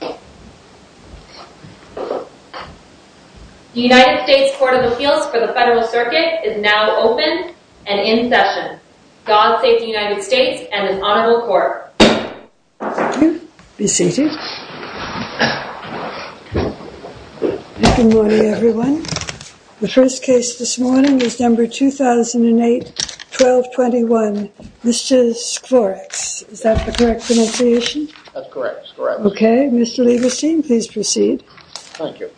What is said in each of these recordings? The United States Court of Appeals for the Federal Circuit is now open and in session. God Save the United States and an Honorable Court. Thank you. Be seated. Good morning, everyone. The first case this morning is number 2008-1221, Mr. Skvorecz. Is that the correct pronunciation? That's correct. Okay. Mr. Lieberstein, please proceed. Thank you.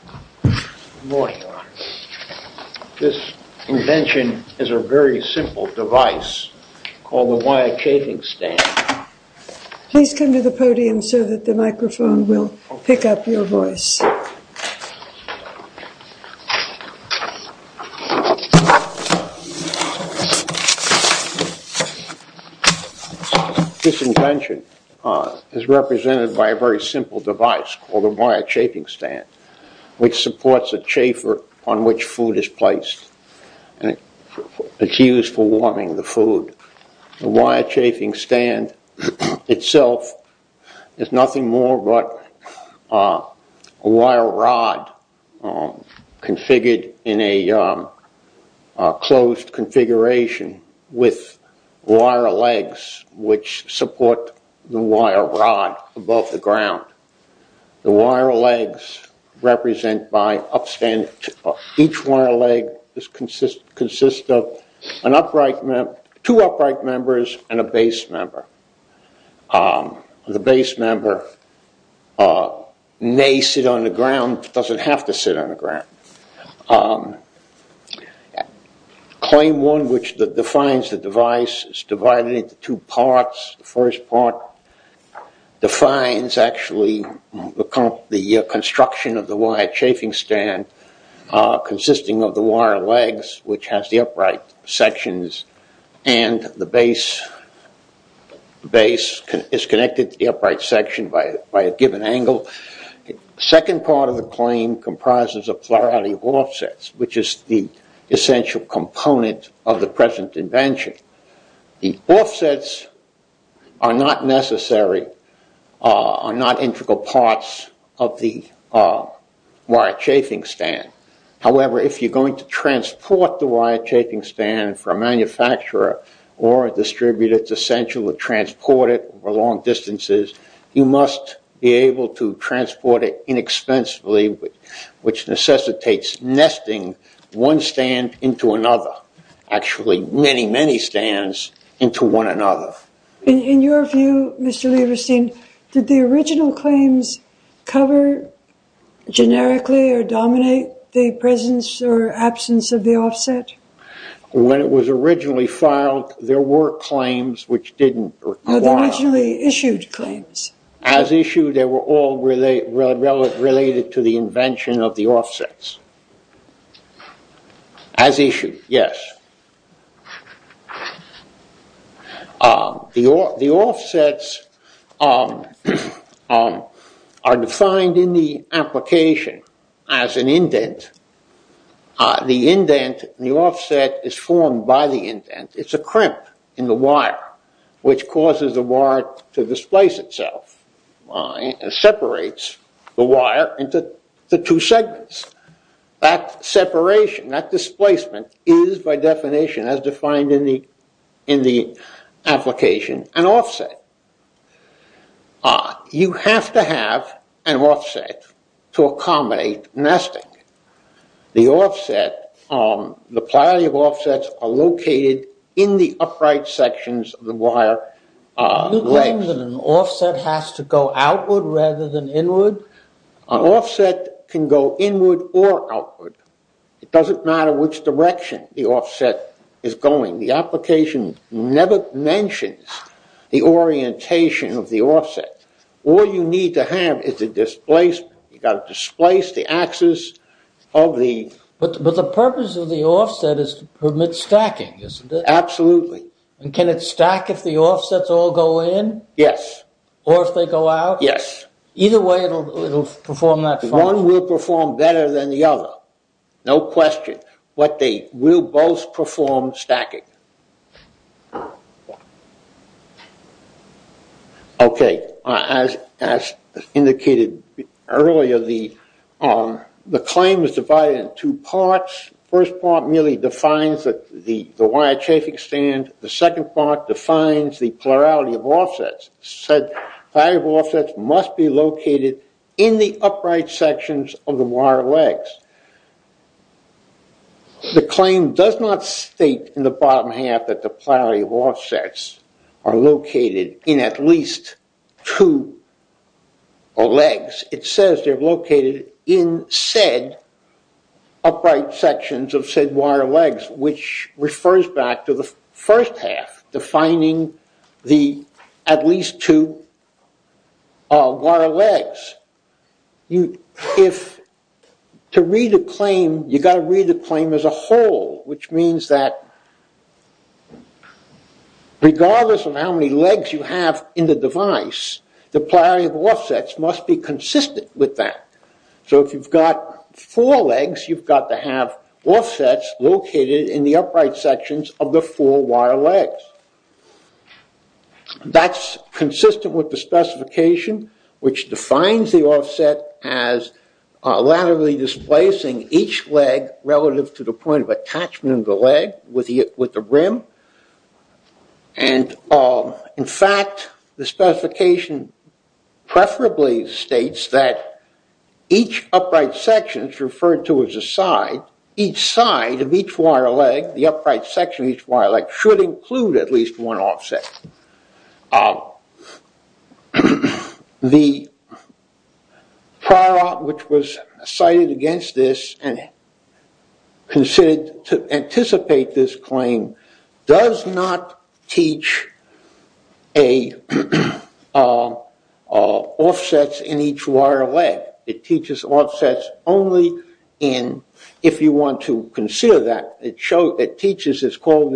Good morning, Your Honor. This invention is a very simple device called the wire chafing stand. Please come to the podium so that the microphone will pick up your voice. This invention is represented by a very simple device called a wire chafing stand, which supports a chaffer on which food is placed. It's used for warming the food. The wire chafing stand itself is nothing more but a wire rod configured in a closed configuration with wire legs which support the wire rod above the ground. The wire legs represent by each wire leg consists of two upright members and a base member. The base member may sit on the ground, doesn't have to sit on the ground. Claim one, which defines the device, is divided into two parts. The first part defines actually the construction of the wire chafing stand consisting of the wire legs, which has the upright sections, and the base is connected to the upright section by a given angle. The second part of the claim comprises a plurality of offsets, which is the essential component of the present invention. The offsets are not necessary, are not integral parts of the wire chafing stand. However, if you're going to transport the wire chafing stand for a manufacturer or a distributor, whether it's essential or transported over long distances, you must be able to transport it inexpensively, which necessitates nesting one stand into another. Actually, many, many stands into one another. In your view, Mr. Lieberstein, did the original claims cover generically or dominate the presence or absence of the offset? When it was originally filed, there were claims which didn't go on. There were originally issued claims. As issued, they were all related to the invention of the offsets. As issued, yes. The offsets are defined in the application as an indent. The indent, the offset is formed by the indent. It's a crimp in the wire, which causes the wire to displace itself and separates the wire into the two segments. That separation, that displacement is, by definition, as defined in the application, an offset. You have to have an offset to accommodate nesting. The offset, the priority of offsets are located in the upright sections of the wire. Do you claim that an offset has to go outward rather than inward? An offset can go inward or outward. It doesn't matter which direction the offset is going. The application never mentions the orientation of the offset. All you need to have is a displacement. You've got to displace the axis of the... But the purpose of the offset is to permit stacking, isn't it? Absolutely. Can it stack if the offsets all go in? Yes. Or if they go out? Yes. Either way, it'll perform that function. One will perform better than the other. No question. But they will both perform stacking. Okay. As indicated earlier, the claim is divided in two parts. The first part merely defines the wire chafing stand. The second part defines the plurality of offsets. The plurality of offsets must be located in the upright sections of the wire legs. The claim does not state in the bottom half that the plurality of offsets are located in at least two legs. It says they're located in said upright sections of said wire legs, which refers back to the first half, defining the at least two wire legs. To read a claim, you've got to read the claim as a whole, which means that regardless of how many legs you have in the device, the plurality of offsets must be consistent with that. So if you've got four legs, you've got to have offsets located in the upright sections of the four wire legs. That's consistent with the specification, which defines the offset as laterally displacing each leg relative to the point of attachment of the leg with the rim. And in fact, the specification preferably states that each upright section is referred to as a side. Each side of each wire leg, the upright section of each wire leg, should include at least one offset. The Pryor Act, which was cited against this and considered to anticipate this claim, does not teach offsets in each wire leg. It teaches offsets only if you want to consider that. It teaches this called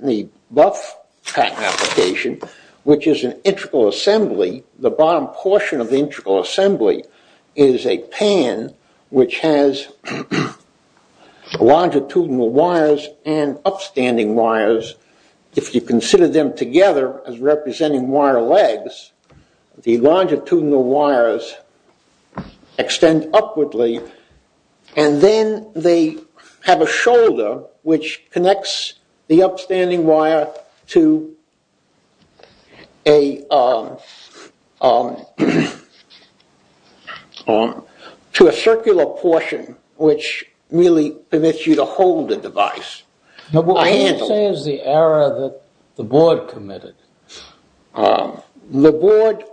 the buff pattern application, which is an integral assembly. The bottom portion of the integral assembly is a pan which has longitudinal wires and upstanding wires. If you consider them together as representing wire legs, the longitudinal wires extend upwardly, and then they have a shoulder which connects the upstanding wire to a circular portion, which really permits you to hold the device. What you're saying is the error that the board committed. The board ignored...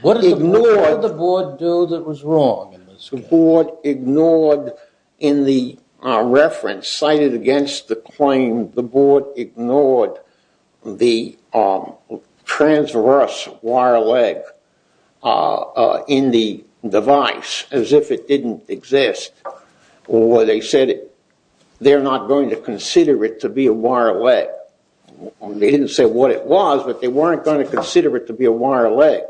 What did the board do that was wrong? The board ignored in the reference cited against the claim, the board ignored the transverse wire leg in the device as if it didn't exist. Or they said they're not going to consider it to be a wire leg. They didn't say what it was, but they weren't going to consider it to be a wire leg.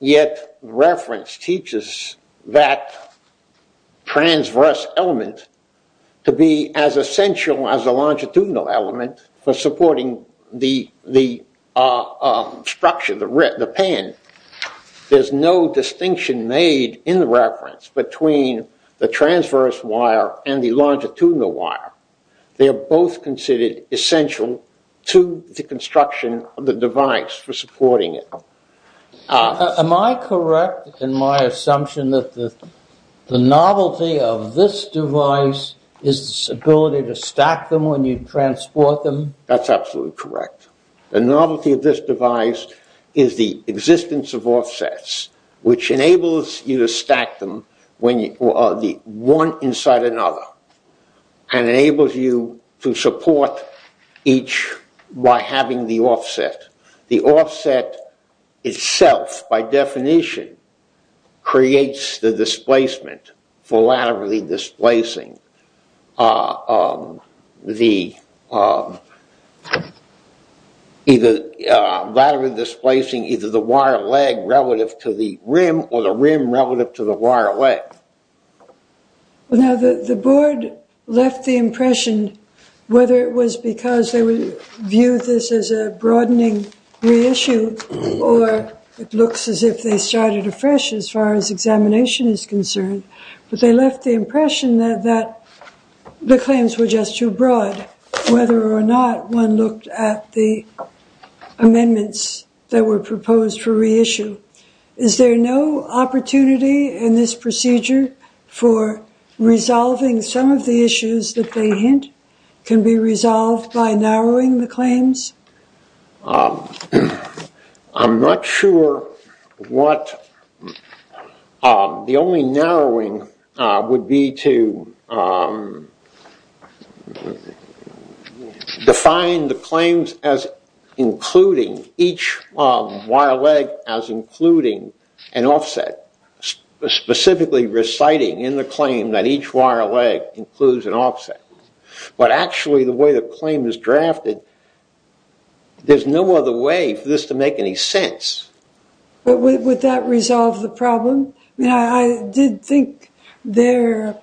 Yet reference teaches that transverse element to be as essential as the longitudinal element for supporting the structure, the pan. There's no distinction made in the reference between the transverse wire and the longitudinal wire. They are both considered essential to the construction of the device for supporting it. Am I correct in my assumption that the novelty of this device is its ability to stack them when you transport them? That's absolutely correct. The novelty of this device is the existence of offsets, which enables you to stack them one inside another, and enables you to support each by having the offset. The offset itself, by definition, creates the displacement for laterally displacing either the wire leg relative to the rim or the rim relative to the wire leg. Now, the board left the impression whether it was because they viewed this as a broadening reissue or it looks as if they started afresh as far as examination is concerned. But they left the impression that the claims were just too broad, whether or not one looked at the amendments that were proposed for reissue. Is there no opportunity in this procedure for resolving some of the issues that they hint can be resolved by narrowing the claims? I'm not sure what the only narrowing would be to define the claims as including each wire leg as including an offset, specifically reciting in the claim that each wire leg includes an offset. But actually, the way the claim is drafted, there's no other way for this to make any sense. But would that resolve the problem? I mean, I did think their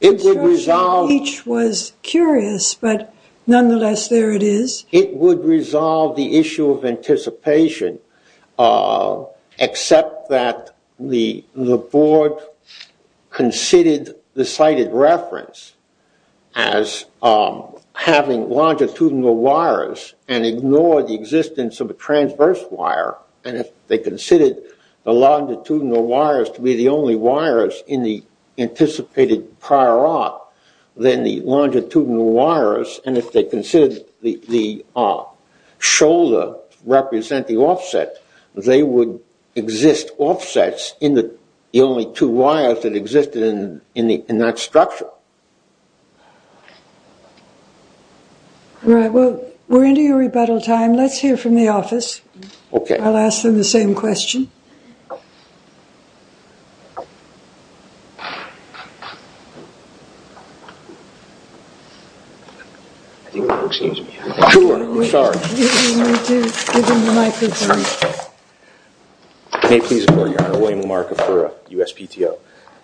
instruction in each was curious, but nonetheless, there it is. It would resolve the issue of anticipation, except that the board considered the sighted reference as having longitudinal wires and ignored the existence of a transverse wire. And if they considered the longitudinal wires to be the only wires in the anticipated prior art, then the longitudinal wires, and if they considered the shoulder to represent the offset, they would exist offsets in the only two wires that existed in that structure. All right, well, we're into your rebuttal time. Let's hear from the office. Okay. I'll ask them the same question. Excuse me. Sure. Sorry. You don't need to give him the microphone. May it please the board, Your Honor. William LaMarca for USPTO.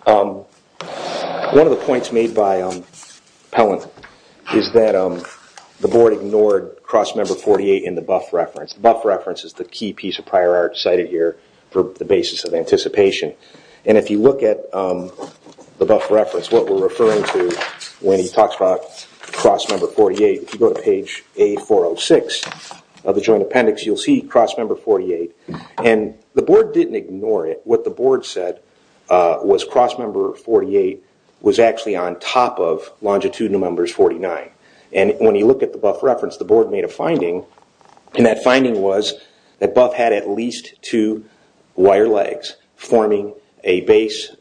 One of the points made by Pellant is that the board ignored crossmember 48 in the buff reference. Buff reference is the key piece of prior art cited here for the basis of anticipation. And if you look at the buff reference, what we're referring to when he talks about crossmember 48, if you go to page A406 of the joint appendix, you'll see crossmember 48. And the board didn't ignore it. What the board said was crossmember 48 was actually on top of longitudinal numbers 49. And when you look at the buff reference, the board made a finding, and that finding was that buff had at least two wire legs forming a base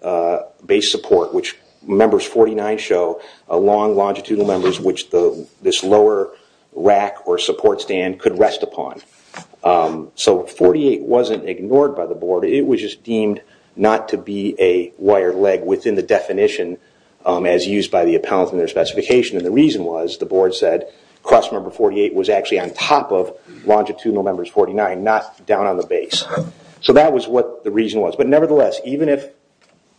support, which members 49 show along longitudinal numbers which this lower rack or support stand could rest upon. So 48 wasn't ignored by the board. It was just deemed not to be a wire leg within the definition as used by the appellant in their specification. And the reason was the board said crossmember 48 was actually on top of longitudinal numbers 49, not down on the base. So that was what the reason was. But nevertheless, even if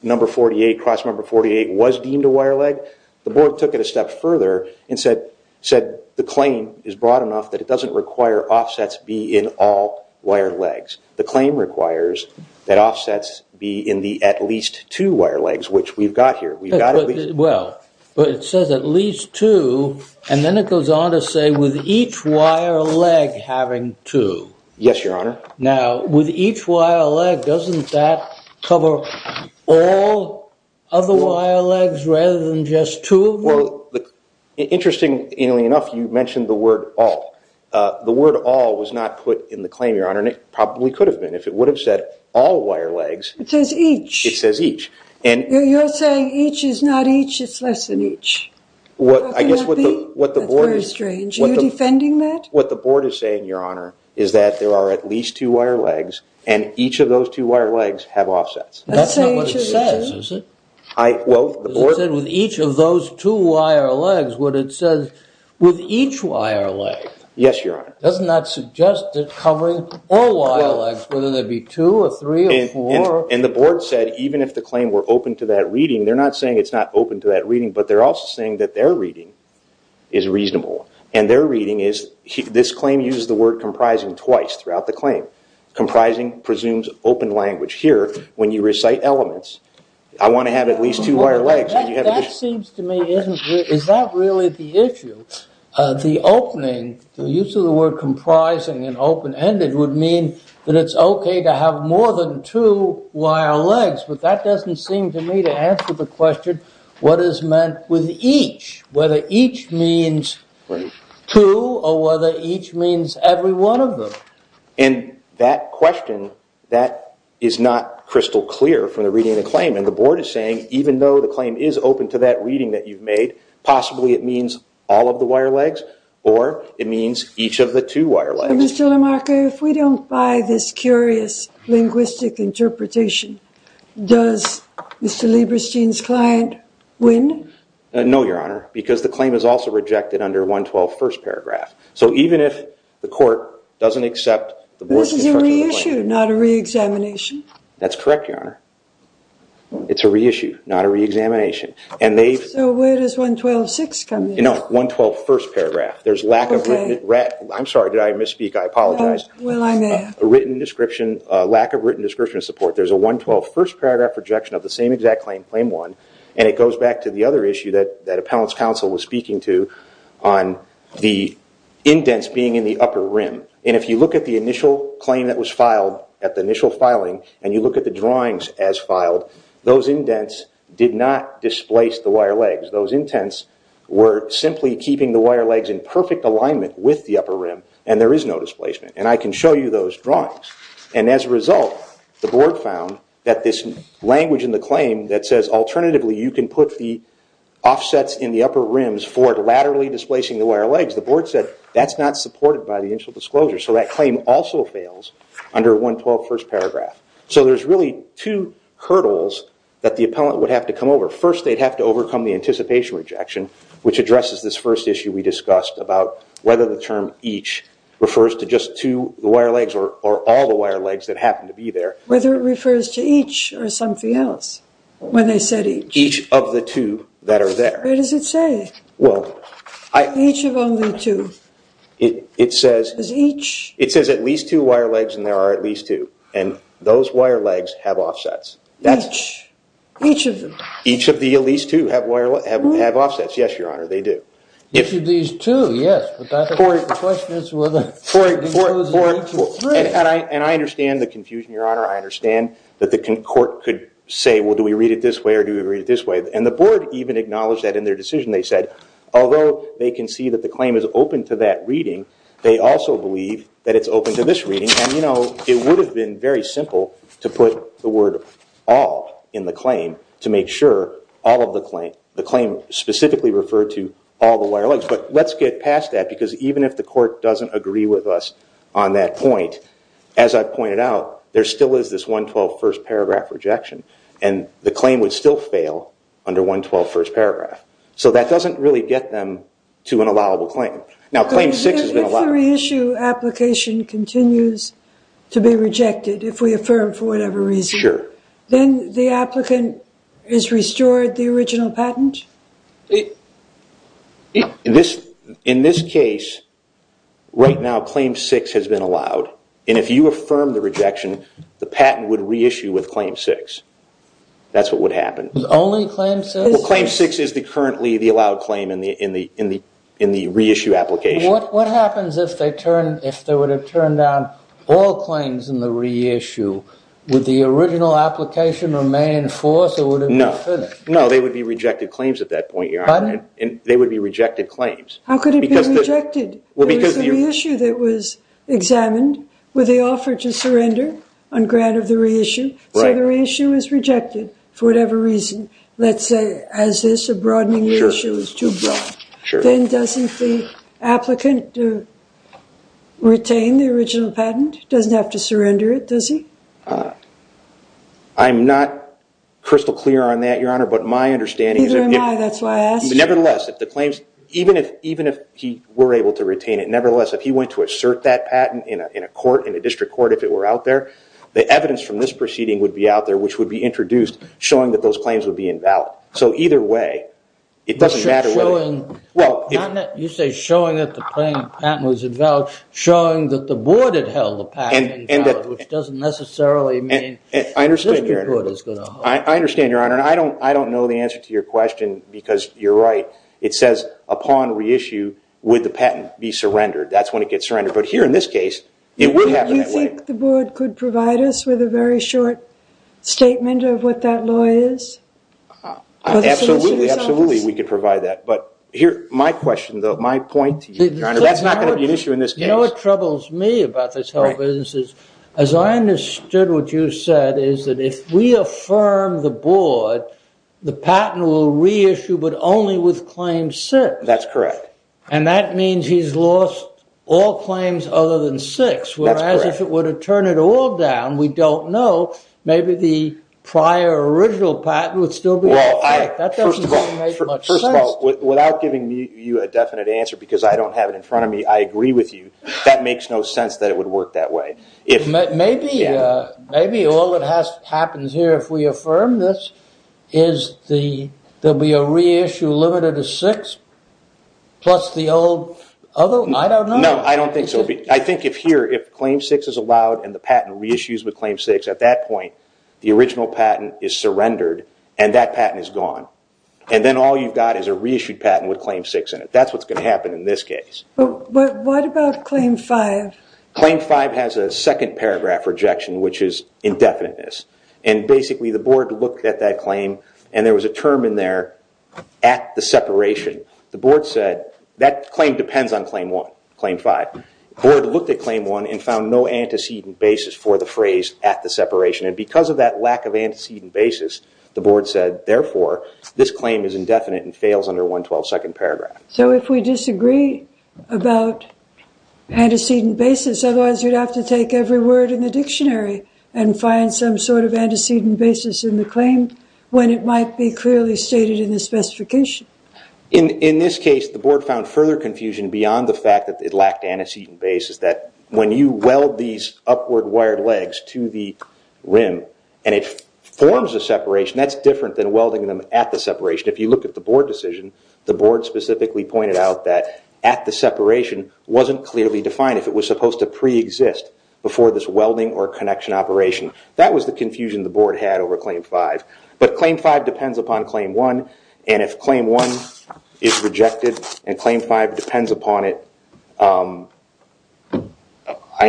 number 48, crossmember 48 was deemed a wire leg, the board took it a step further and said the claim is broad enough that it doesn't require offsets be in all wire legs. The claim requires that offsets be in the at least two wire legs, which we've got here. Well, but it says at least two, and then it goes on to say with each wire leg having two. Yes, Your Honor. Now, with each wire leg, doesn't that cover all of the wire legs rather than just two? Well, interestingly enough, you mentioned the word all. The word all was not put in the claim, Your Honor, and it probably could have been. If it would have said all wire legs. It says each. It says each. You're saying each is not each. It's less than each. What could that be? That's very strange. Are you defending that? What the board is saying, Your Honor, is that there are at least two wire legs, and each of those two wire legs have offsets. That's not what it says, is it? It said with each of those two wire legs. What it says with each wire leg. Yes, Your Honor. Doesn't that suggest that covering all wire legs, whether there be two or three or four. And the board said even if the claim were open to that reading, they're not saying it's not open to that reading, but they're also saying that their reading is reasonable. And their reading is this claim uses the word comprising twice throughout the claim. Comprising presumes open language. Here, when you recite elements, I want to have at least two wire legs. That seems to me, is that really the issue? The opening, the use of the word comprising and open-ended would mean that it's okay to have more than two wire legs. But that doesn't seem to me to answer the question, what is meant with each? Whether each means two or whether each means every one of them. And that question, that is not crystal clear from the reading of the claim. And the board is saying even though the claim is open to that reading that you've made, possibly it means all of the wire legs or it means each of the two wire legs. Mr. LaMarca, if we don't buy this curious linguistic interpretation, does Mr. Lieberstein's client win? No, Your Honor, because the claim is also rejected under 112 first paragraph. So even if the court doesn't accept the board's construction of the claim. This is a reissue, not a reexamination. That's correct, Your Honor. It's a reissue, not a reexamination. So where does 112.6 come in? No, 112 first paragraph. I'm sorry, did I misspeak? I apologize. Well, I may have. Lack of written description support. There's a 112 first paragraph rejection of the same exact claim, claim one. And it goes back to the other issue that appellant's counsel was speaking to on the indents being in the upper rim. And if you look at the initial claim that was filed, at the initial filing, and you look at the drawings as filed, those indents did not displace the wire legs. Those indents were simply keeping the wire legs in perfect alignment with the upper rim and there is no displacement. And I can show you those drawings. And as a result, the board found that this language in the claim that says, alternatively you can put the offsets in the upper rims for laterally displacing the wire legs, the board said that's not supported by the initial disclosure. So that claim also fails under 112 first paragraph. So there's really two hurdles that the appellant would have to come over. First, they'd have to overcome the anticipation rejection, which addresses this first issue we discussed about whether the term each refers to just two wire legs or all the wire legs that happen to be there. Whether it refers to each or something else when they said each. Each of the two that are there. Where does it say? Each of only two. It says at least two wire legs and there are at least two. And those wire legs have offsets. Each. Each of them. Each of the at least two have offsets. Yes, Your Honor, they do. Each of these two, yes. But the question is whether it includes each of three. And I understand the confusion, Your Honor. I understand that the court could say, well, do we read it this way or do we read it this way? And the board even acknowledged that in their decision. They said, although they can see that the claim is open to that reading, they also believe that it's open to this reading. And, you know, it would have been very simple to put the word all in the claim to make sure all of the claim, the claim specifically referred to all the wire legs. But let's get past that because even if the court doesn't agree with us on that point, as I pointed out, there still is this 112 first paragraph rejection. And the claim would still fail under 112 first paragraph. So that doesn't really get them to an allowable claim. Now, claim six has been allowed. If the reissue application continues to be rejected, if we affirm for whatever reason, then the applicant is restored the original patent? In this case, right now claim six has been allowed. And if you affirm the rejection, the patent would reissue with claim six. That's what would happen. Only claim six? Well, claim six is currently the allowed claim in the reissue application. What happens if they would have turned down all claims in the reissue? Would the original application remain in force or would it be finished? No, they would be rejected claims at that point. Pardon? They would be rejected claims. How could it be rejected? There was a reissue that was examined. Would they offer to surrender on grant of the reissue? So the reissue is rejected for whatever reason. Let's say as this, a broadening reissue. Then doesn't the applicant retain the original patent? Doesn't have to surrender it, does he? I'm not crystal clear on that, Your Honor, but my understanding is that if the claims, even if he were able to retain it, nevertheless, if he went to assert that patent in a court, in a district court, if it were out there, the evidence from this proceeding would be out there, which would be introduced showing that those claims would be invalid. So either way, it doesn't matter whether. You say showing that the patent was invalid, showing that the board had held the patent invalid, which doesn't necessarily mean the district court is going to hold it. I understand, Your Honor, and I don't know the answer to your question because you're right. It says upon reissue, would the patent be surrendered? That's when it gets surrendered. But here in this case, it wouldn't happen that way. Do you think the board could provide us with a very short statement of what that law is? Absolutely, absolutely, we could provide that. But here, my question, my point to you, Your Honor, that's not going to be an issue in this case. You know what troubles me about this whole business? As I understood what you said is that if we affirm the board, the patent will reissue but only with claim six. That's correct. And that means he's lost all claims other than six. Whereas if it were to turn it all down, we don't know, maybe the prior original patent would still be in effect. That doesn't make much sense. First of all, without giving you a definite answer because I don't have it in front of me, I agree with you. That makes no sense that it would work that way. Maybe all that happens here if we affirm this is there will be a reissue limited to six plus the old, I don't know. No, I don't think so. I think if here, if claim six is allowed and the patent reissues with claim six, at that point, the original patent is surrendered and that patent is gone. And then all you've got is a reissued patent with claim six in it. That's what's going to happen in this case. What about claim five? Claim five has a second paragraph rejection, which is indefiniteness. And basically the board looked at that claim and there was a term in there at the separation. The board said that claim depends on claim one, claim five. The board looked at claim one and found no antecedent basis for the phrase at the separation. And because of that lack of antecedent basis, the board said, therefore, this claim is indefinite and fails under 112 second paragraph. So if we disagree about antecedent basis, otherwise you'd have to take every word in the dictionary and find some sort of antecedent basis in the claim when it might be clearly stated in the specification. In this case, the board found further confusion beyond the fact that it lacked antecedent basis, that when you weld these upward wired legs to the rim and it forms a separation, that's different than welding them at the separation. If you look at the board decision, the board specifically pointed out that at the separation wasn't clearly defined if it was supposed to preexist before this welding or connection operation. That was the confusion the board had over claim five. But claim five depends upon claim one. And if claim one is rejected and claim five depends upon it, I'm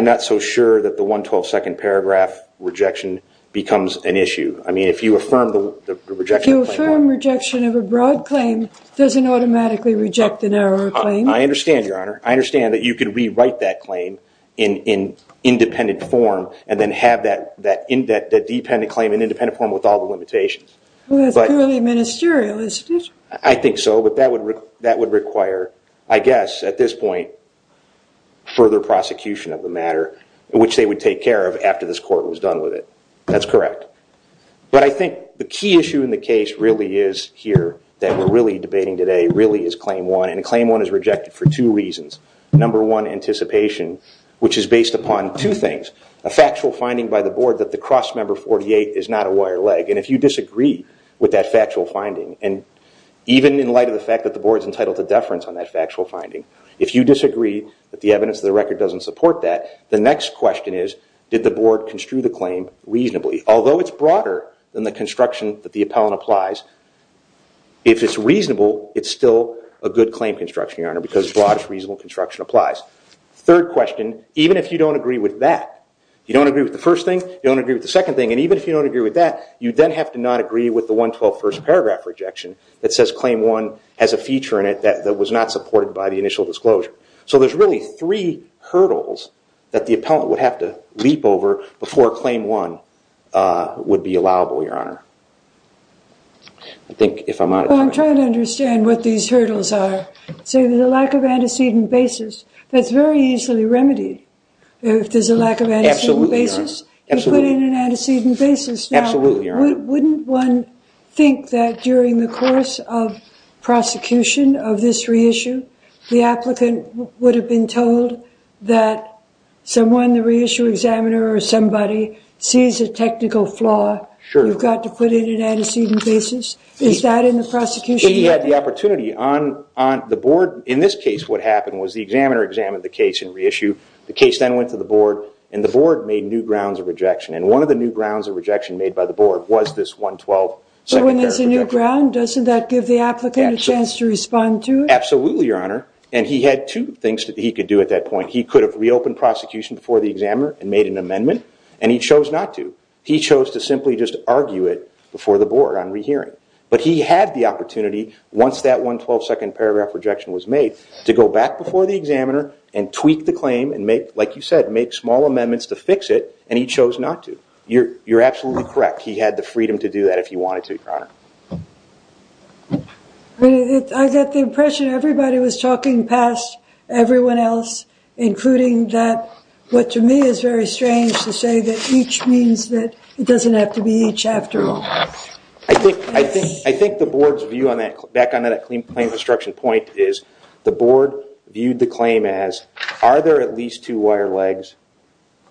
not so sure that the 112 second paragraph rejection becomes an issue. I mean, if you affirm the rejection of claim one. If you affirm rejection of a broad claim, it doesn't automatically reject the narrower claim. I understand, Your Honor. I understand that you could rewrite that claim in independent form and then have that dependent claim in independent form with all the limitations. Well, that's purely ministerial, isn't it? I think so. But that would require, I guess, at this point, further prosecution of the matter, which they would take care of after this court was done with it. That's correct. But I think the key issue in the case really is here that we're really debating today, really is claim one. And claim one is rejected for two reasons. Number one, anticipation, which is based upon two things. A factual finding by the board that the crossmember 48 is not a wire leg. And if you disagree with that factual finding, and even in light of the fact that the board's entitled to deference on that factual finding, if you disagree that the evidence of the record doesn't support that, the next question is, did the board construe the claim reasonably? Although it's broader than the construction that the appellant applies, if it's reasonable, it's still a good claim construction, Your Honor, because as broad as reasonable construction applies. Third question, even if you don't agree with that, you don't agree with the first thing, you don't agree with the second thing, and even if you don't agree with that, you then have to not agree with the 112 first paragraph rejection that says claim one has a feature in it that was not supported by the initial disclosure. So there's really three hurdles that the appellant would have to leap over before claim one would be allowable, Your Honor. Well, I'm trying to understand what these hurdles are. So there's a lack of antecedent basis. That's very easily remedied if there's a lack of antecedent basis. You put in an antecedent basis. Now, wouldn't one think that during the course of prosecution of this reissue, the applicant would have been told that someone, the reissue examiner or somebody, sees a technical flaw, you've got to put in an antecedent basis? Is that in the prosecution? If you had the opportunity, on the board, in this case, what happened was the examiner examined the case and reissued. The case then went to the board, and the board made new grounds of rejection, and one of the new grounds of rejection made by the board was this 112. So when there's a new ground, doesn't that give the applicant a chance to respond to it? Absolutely, Your Honor. And he had two things that he could do at that point. He could have reopened prosecution before the examiner and made an amendment, and he chose not to. He chose to simply just argue it before the board on rehearing. But he had the opportunity, once that 112-second paragraph rejection was made, to go back before the examiner and tweak the claim and make, like you said, make small amendments to fix it, and he chose not to. You're absolutely correct. He had the freedom to do that if he wanted to, Your Honor. I got the impression everybody was talking past everyone else, including that what to me is very strange to say that each means that it doesn't have to be each after all. I think the board's view back on that claim construction point is the board viewed the claim as are there at least two wire legs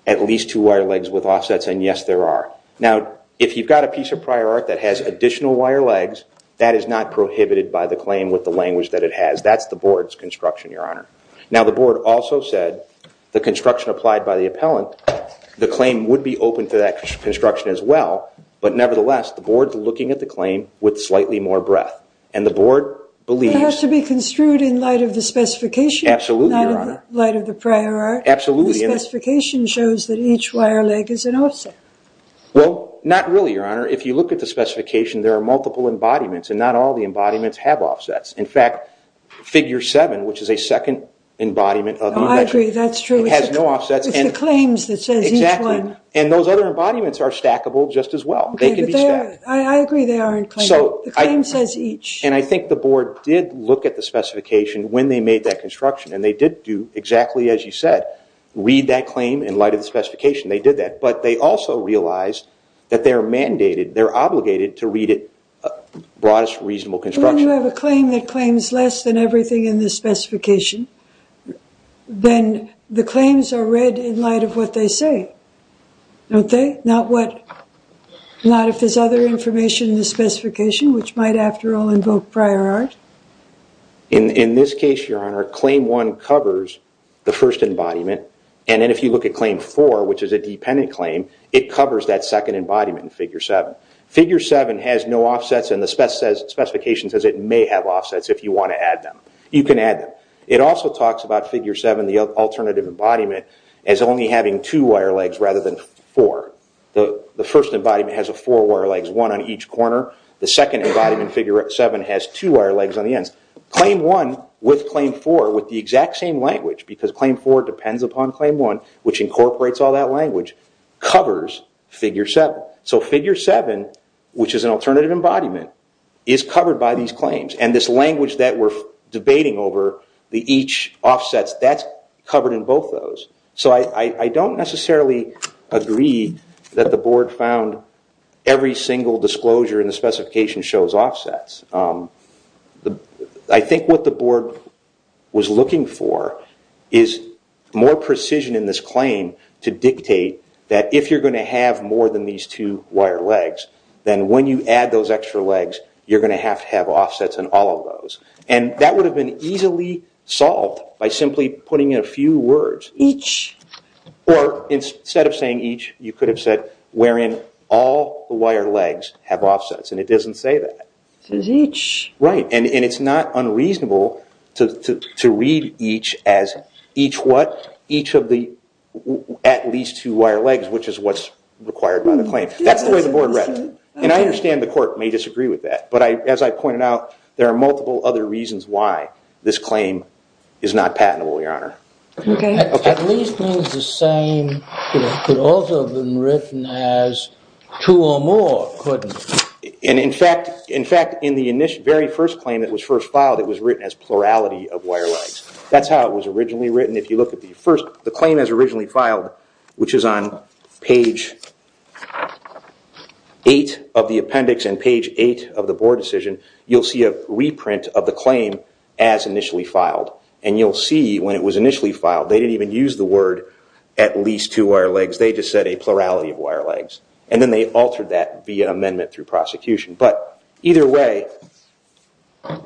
with offsets, and yes, there are. Now, if you've got a piece of prior art that has additional wire legs, that is not prohibited by the claim with the language that it has. That's the board's construction, Your Honor. Now, the board also said the construction applied by the appellant, the claim would be open to that construction as well, but nevertheless, the board's looking at the claim with slightly more breadth, and the board believes. It has to be construed in light of the specification. Absolutely, Your Honor. Not in light of the prior art. Absolutely. The specification shows that each wire leg is an offset. Well, not really, Your Honor. If you look at the specification, there are multiple embodiments, and not all the embodiments have offsets. In fact, figure seven, which is a second embodiment of the metric. I agree. That's true. It has no offsets. It's the claims that says each one. Exactly. And those other embodiments are stackable just as well. They can be stacked. I agree they are in claim. The claim says each. And I think the board did look at the specification when they made that read that claim in light of the specification. They did that, but they also realized that they're mandated, they're obligated to read it broadest reasonable construction. When you have a claim that claims less than everything in the specification, then the claims are read in light of what they say, don't they? Not if there's other information in the specification, which might, after all, invoke prior art. In this case, Your Honor, claim one covers the first embodiment, and then if you look at claim four, which is a dependent claim, it covers that second embodiment in figure seven. Figure seven has no offsets, and the specification says it may have offsets if you want to add them. You can add them. It also talks about figure seven, the alternative embodiment, as only having two wire legs rather than four. The first embodiment has four wire legs, one on each corner. The second embodiment, figure seven, has two wire legs on the ends. Claim one, with claim four, with the exact same language, because claim four depends upon claim one, which incorporates all that language, covers figure seven. So figure seven, which is an alternative embodiment, is covered by these claims. And this language that we're debating over, the each offsets, that's covered in both those. So I don't necessarily agree that the board found every single disclosure in the specification shows offsets. I think what the board was looking for is more precision in this claim to dictate that if you're going to have more than these two wire legs, then when you add those extra legs, you're going to have to have offsets in all of those. And that would have been easily solved by simply putting in a few words, each, or instead of saying each, you could have said, wherein all the wire legs have offsets. And it doesn't say that. It says each. Right. And it's not unreasonable to read each as each what? Each of the at least two wire legs, which is what's required by the claim. That's the way the board read it. And I understand the court may disagree with that. But as I pointed out, there are multiple other reasons why this claim is not patentable, Your Honor. Okay. At least means the same could also have been written as two or more, couldn't it? In fact, in the very first claim that was first filed, it was written as plurality of wire legs. That's how it was originally written. If you look at the claim as originally filed, which is on page 8 of the appendix and page 8 of the board decision, you'll see a reprint of the claim as initially filed. And you'll see when it was initially filed, they didn't even use the word at least two wire legs. They just said a plurality of wire legs. And then they altered that via amendment through prosecution. But either way,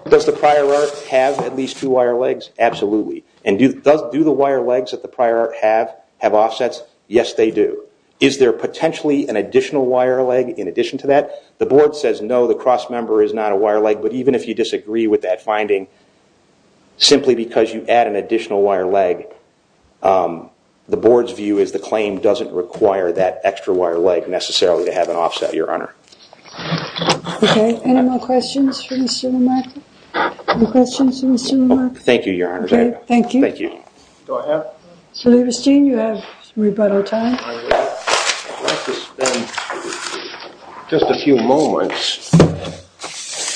does the prior art have at least two wire legs? Absolutely. And do the wire legs that the prior art have have offsets? Yes, they do. Is there potentially an additional wire leg in addition to that? The board says no, the cross member is not a wire leg. But even if you disagree with that finding, simply because you add an additional wire leg, the board's view is the claim doesn't require that extra wire leg necessarily to have an offset, Your Honor. Okay. Any more questions for Mr. Lamarck? Any questions for Mr. Lamarck? Thank you, Your Honor. Okay, thank you. Thank you. So, Lieberstein, you have rebuttal time. I would like to spend just a few moments.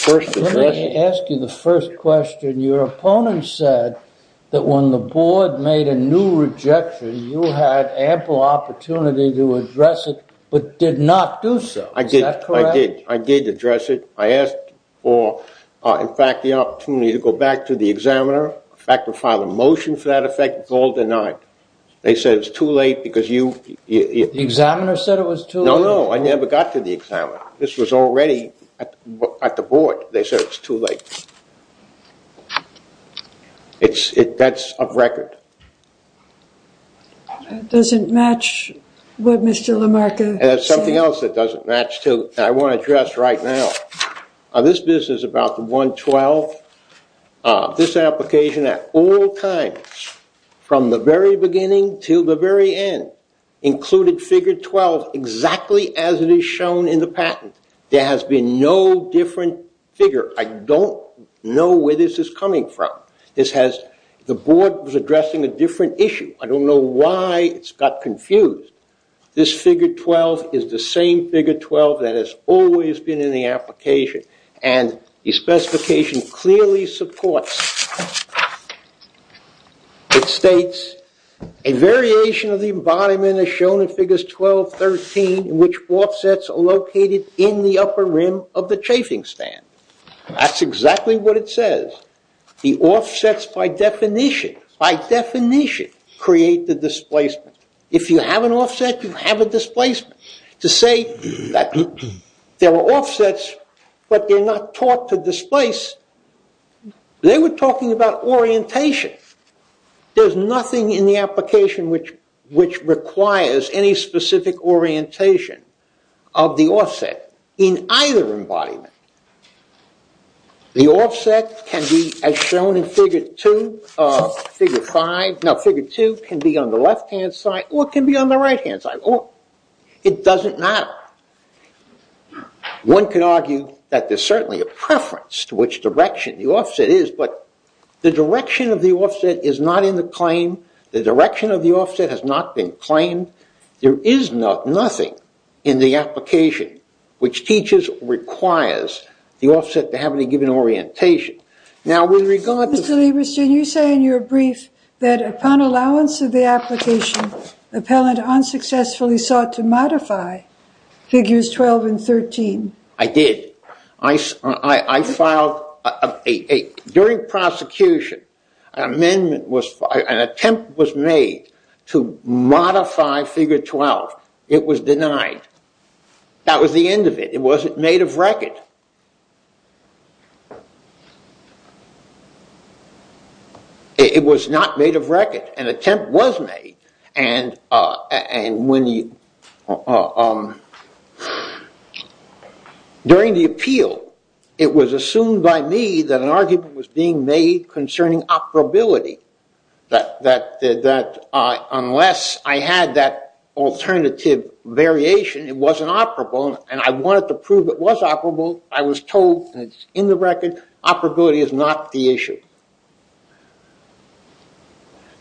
Let me ask you the first question. Your opponent said that when the board made a new rejection, you had ample opportunity to address it but did not do so. Is that correct? I did. I did address it. I asked for, in fact, the opportunity to go back to the examiner, back to file a motion for that effect. It was all denied. They said it was too late because you – The examiner said it was too late? No, no. I never got to the examiner. This was already at the board. They said it was too late. That's a record. That doesn't match what Mr. Lamarck said. There's something else that doesn't match, too, that I want to address right now. This business about the 112, this application at all times, from the very beginning to the very end, included figure 12 exactly as it is shown in the patent. There has been no different figure. I don't know where this is coming from. The board was addressing a different issue. I don't know why it got confused. This figure 12 is the same figure 12 that has always been in the application, and the specification clearly supports. It states, a variation of the embodiment is shown in figures 12, 13, in which offsets are located in the upper rim of the chafing stand. That's exactly what it says. The offsets, by definition, by definition, create the displacement. If you have an offset, you have a displacement. To say that there were offsets but they're not taught to displace, they were talking about orientation. There's nothing in the application which requires any specific orientation of the offset in either embodiment. The offset can be, as shown in figure 2, figure 5, no, figure 2 can be on the left-hand side or it can be on the right-hand side. It doesn't matter. One could argue that there's certainly a preference to which direction the offset is, but the direction of the offset is not in the claim. The direction of the offset has not been claimed. There is nothing in the application which teaches, requires the offset to have any given orientation. Now, with regard to... Mr. Lieberstein, you say in your brief that upon allowance of the application, the appellant unsuccessfully sought to modify figures 12 and 13. I did. I filed... During prosecution, an amendment was... an attempt was made to modify figure 12. It was denied. That was the end of it. It wasn't made of record. It was not made of record. An attempt was made, and when the... During the appeal, it was assumed by me that an argument was being made concerning operability, that unless I had that alternative variation, it wasn't operable, and I wanted to prove it was operable. I was told, and it's in the record, operability is not the issue.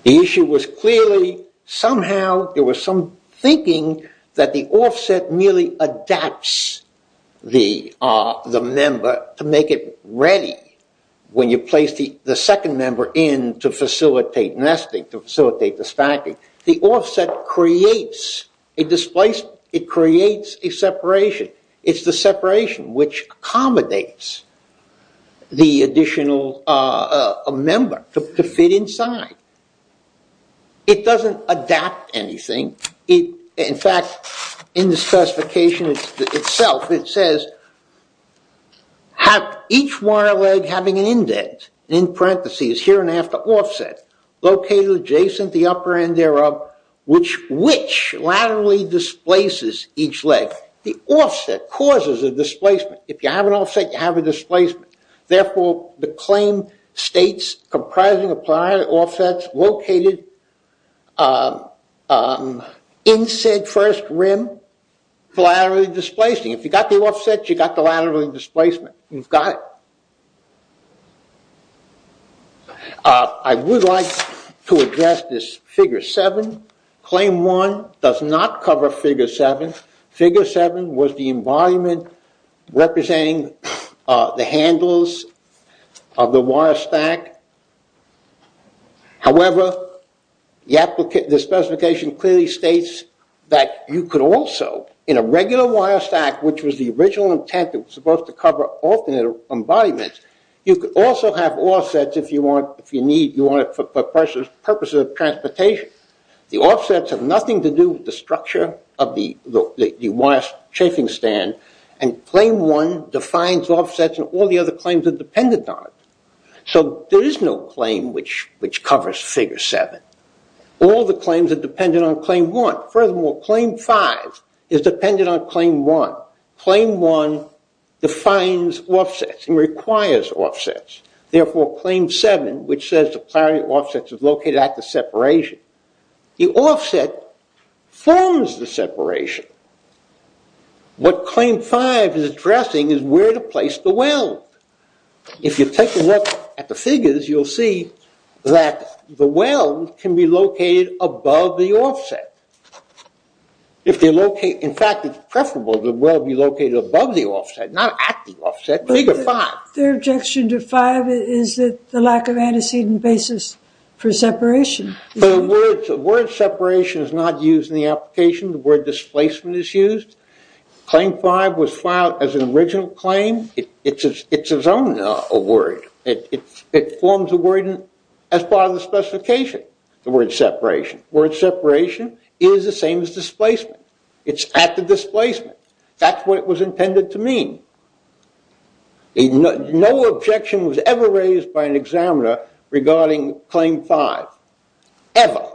The issue was clearly somehow there was some thinking that the offset merely adapts the member to make it ready when you place the second member in to facilitate nesting, to facilitate the stacking. The offset creates a displacement. It creates a separation. It's the separation which accommodates the additional member to fit inside. It doesn't adapt anything. In fact, in the specification itself, it says, have each wire leg having an indent, in parentheses, here and after offset, located adjacent the upper end thereof, which laterally displaces each leg. The offset causes a displacement. If you have an offset, you have a displacement. Therefore, the claim states comprising of planar offsets located in said first rim, laterally displacing. If you got the offset, you got the laterally displacement. You've got it. I would like to address this figure seven. Claim one does not cover figure seven. Figure seven was the embodiment representing the handles of the wire stack. However, the application, the specification clearly states that you could also, in a regular wire stack, which was the original intent that was supposed to cover alternate embodiments, you could also have offsets if you want, if you need, you want it for purposes of transportation. The offsets have nothing to do with the structure of the wire chafing stand. And claim one defines offsets and all the other claims are dependent on it. So there is no claim which covers figure seven. All the claims are dependent on claim one. Furthermore, claim five is dependent on claim one. Claim one defines offsets and requires offsets. Therefore, claim seven, which says the planar offsets are located at the separation, the offset forms the separation. What claim five is addressing is where to place the weld. If you take a look at the figures, you'll see that the weld can be located above the offset. In fact, it's preferable the weld be located above the offset, not at the offset. Figure five. Their objection to five is that the lack of antecedent basis for separation. Word separation is not used in the application. The word displacement is used. Claim five was filed as an original claim. It's its own word. It forms a word as part of the specification, the word separation. Word separation is the same as displacement. It's at the displacement. That's what it was intended to mean. No objection was ever raised by an examiner regarding claim five, ever.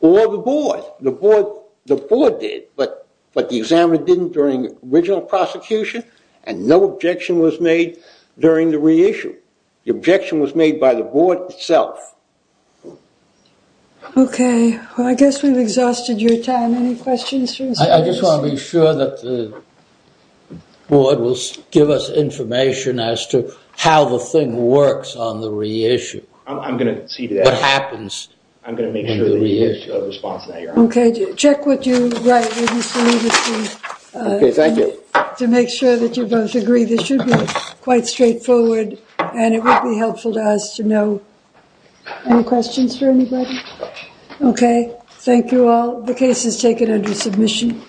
Or the board. The board did, but the examiner didn't during the original prosecution. And no objection was made during the reissue. The objection was made by the board itself. OK. Well, I guess we've exhausted your time. Any questions? I just want to be sure that the board will give us information as to how the thing works on the reissue. I'm going to see to that. What happens in the reissue. I'm going to make sure that you have a response now. OK. Check what you write. OK. Thank you. To make sure that you both agree. This should be quite straightforward. And it would be helpful to us to know. Any questions for anybody? OK. Thank you all. The case is taken under submission. Sure.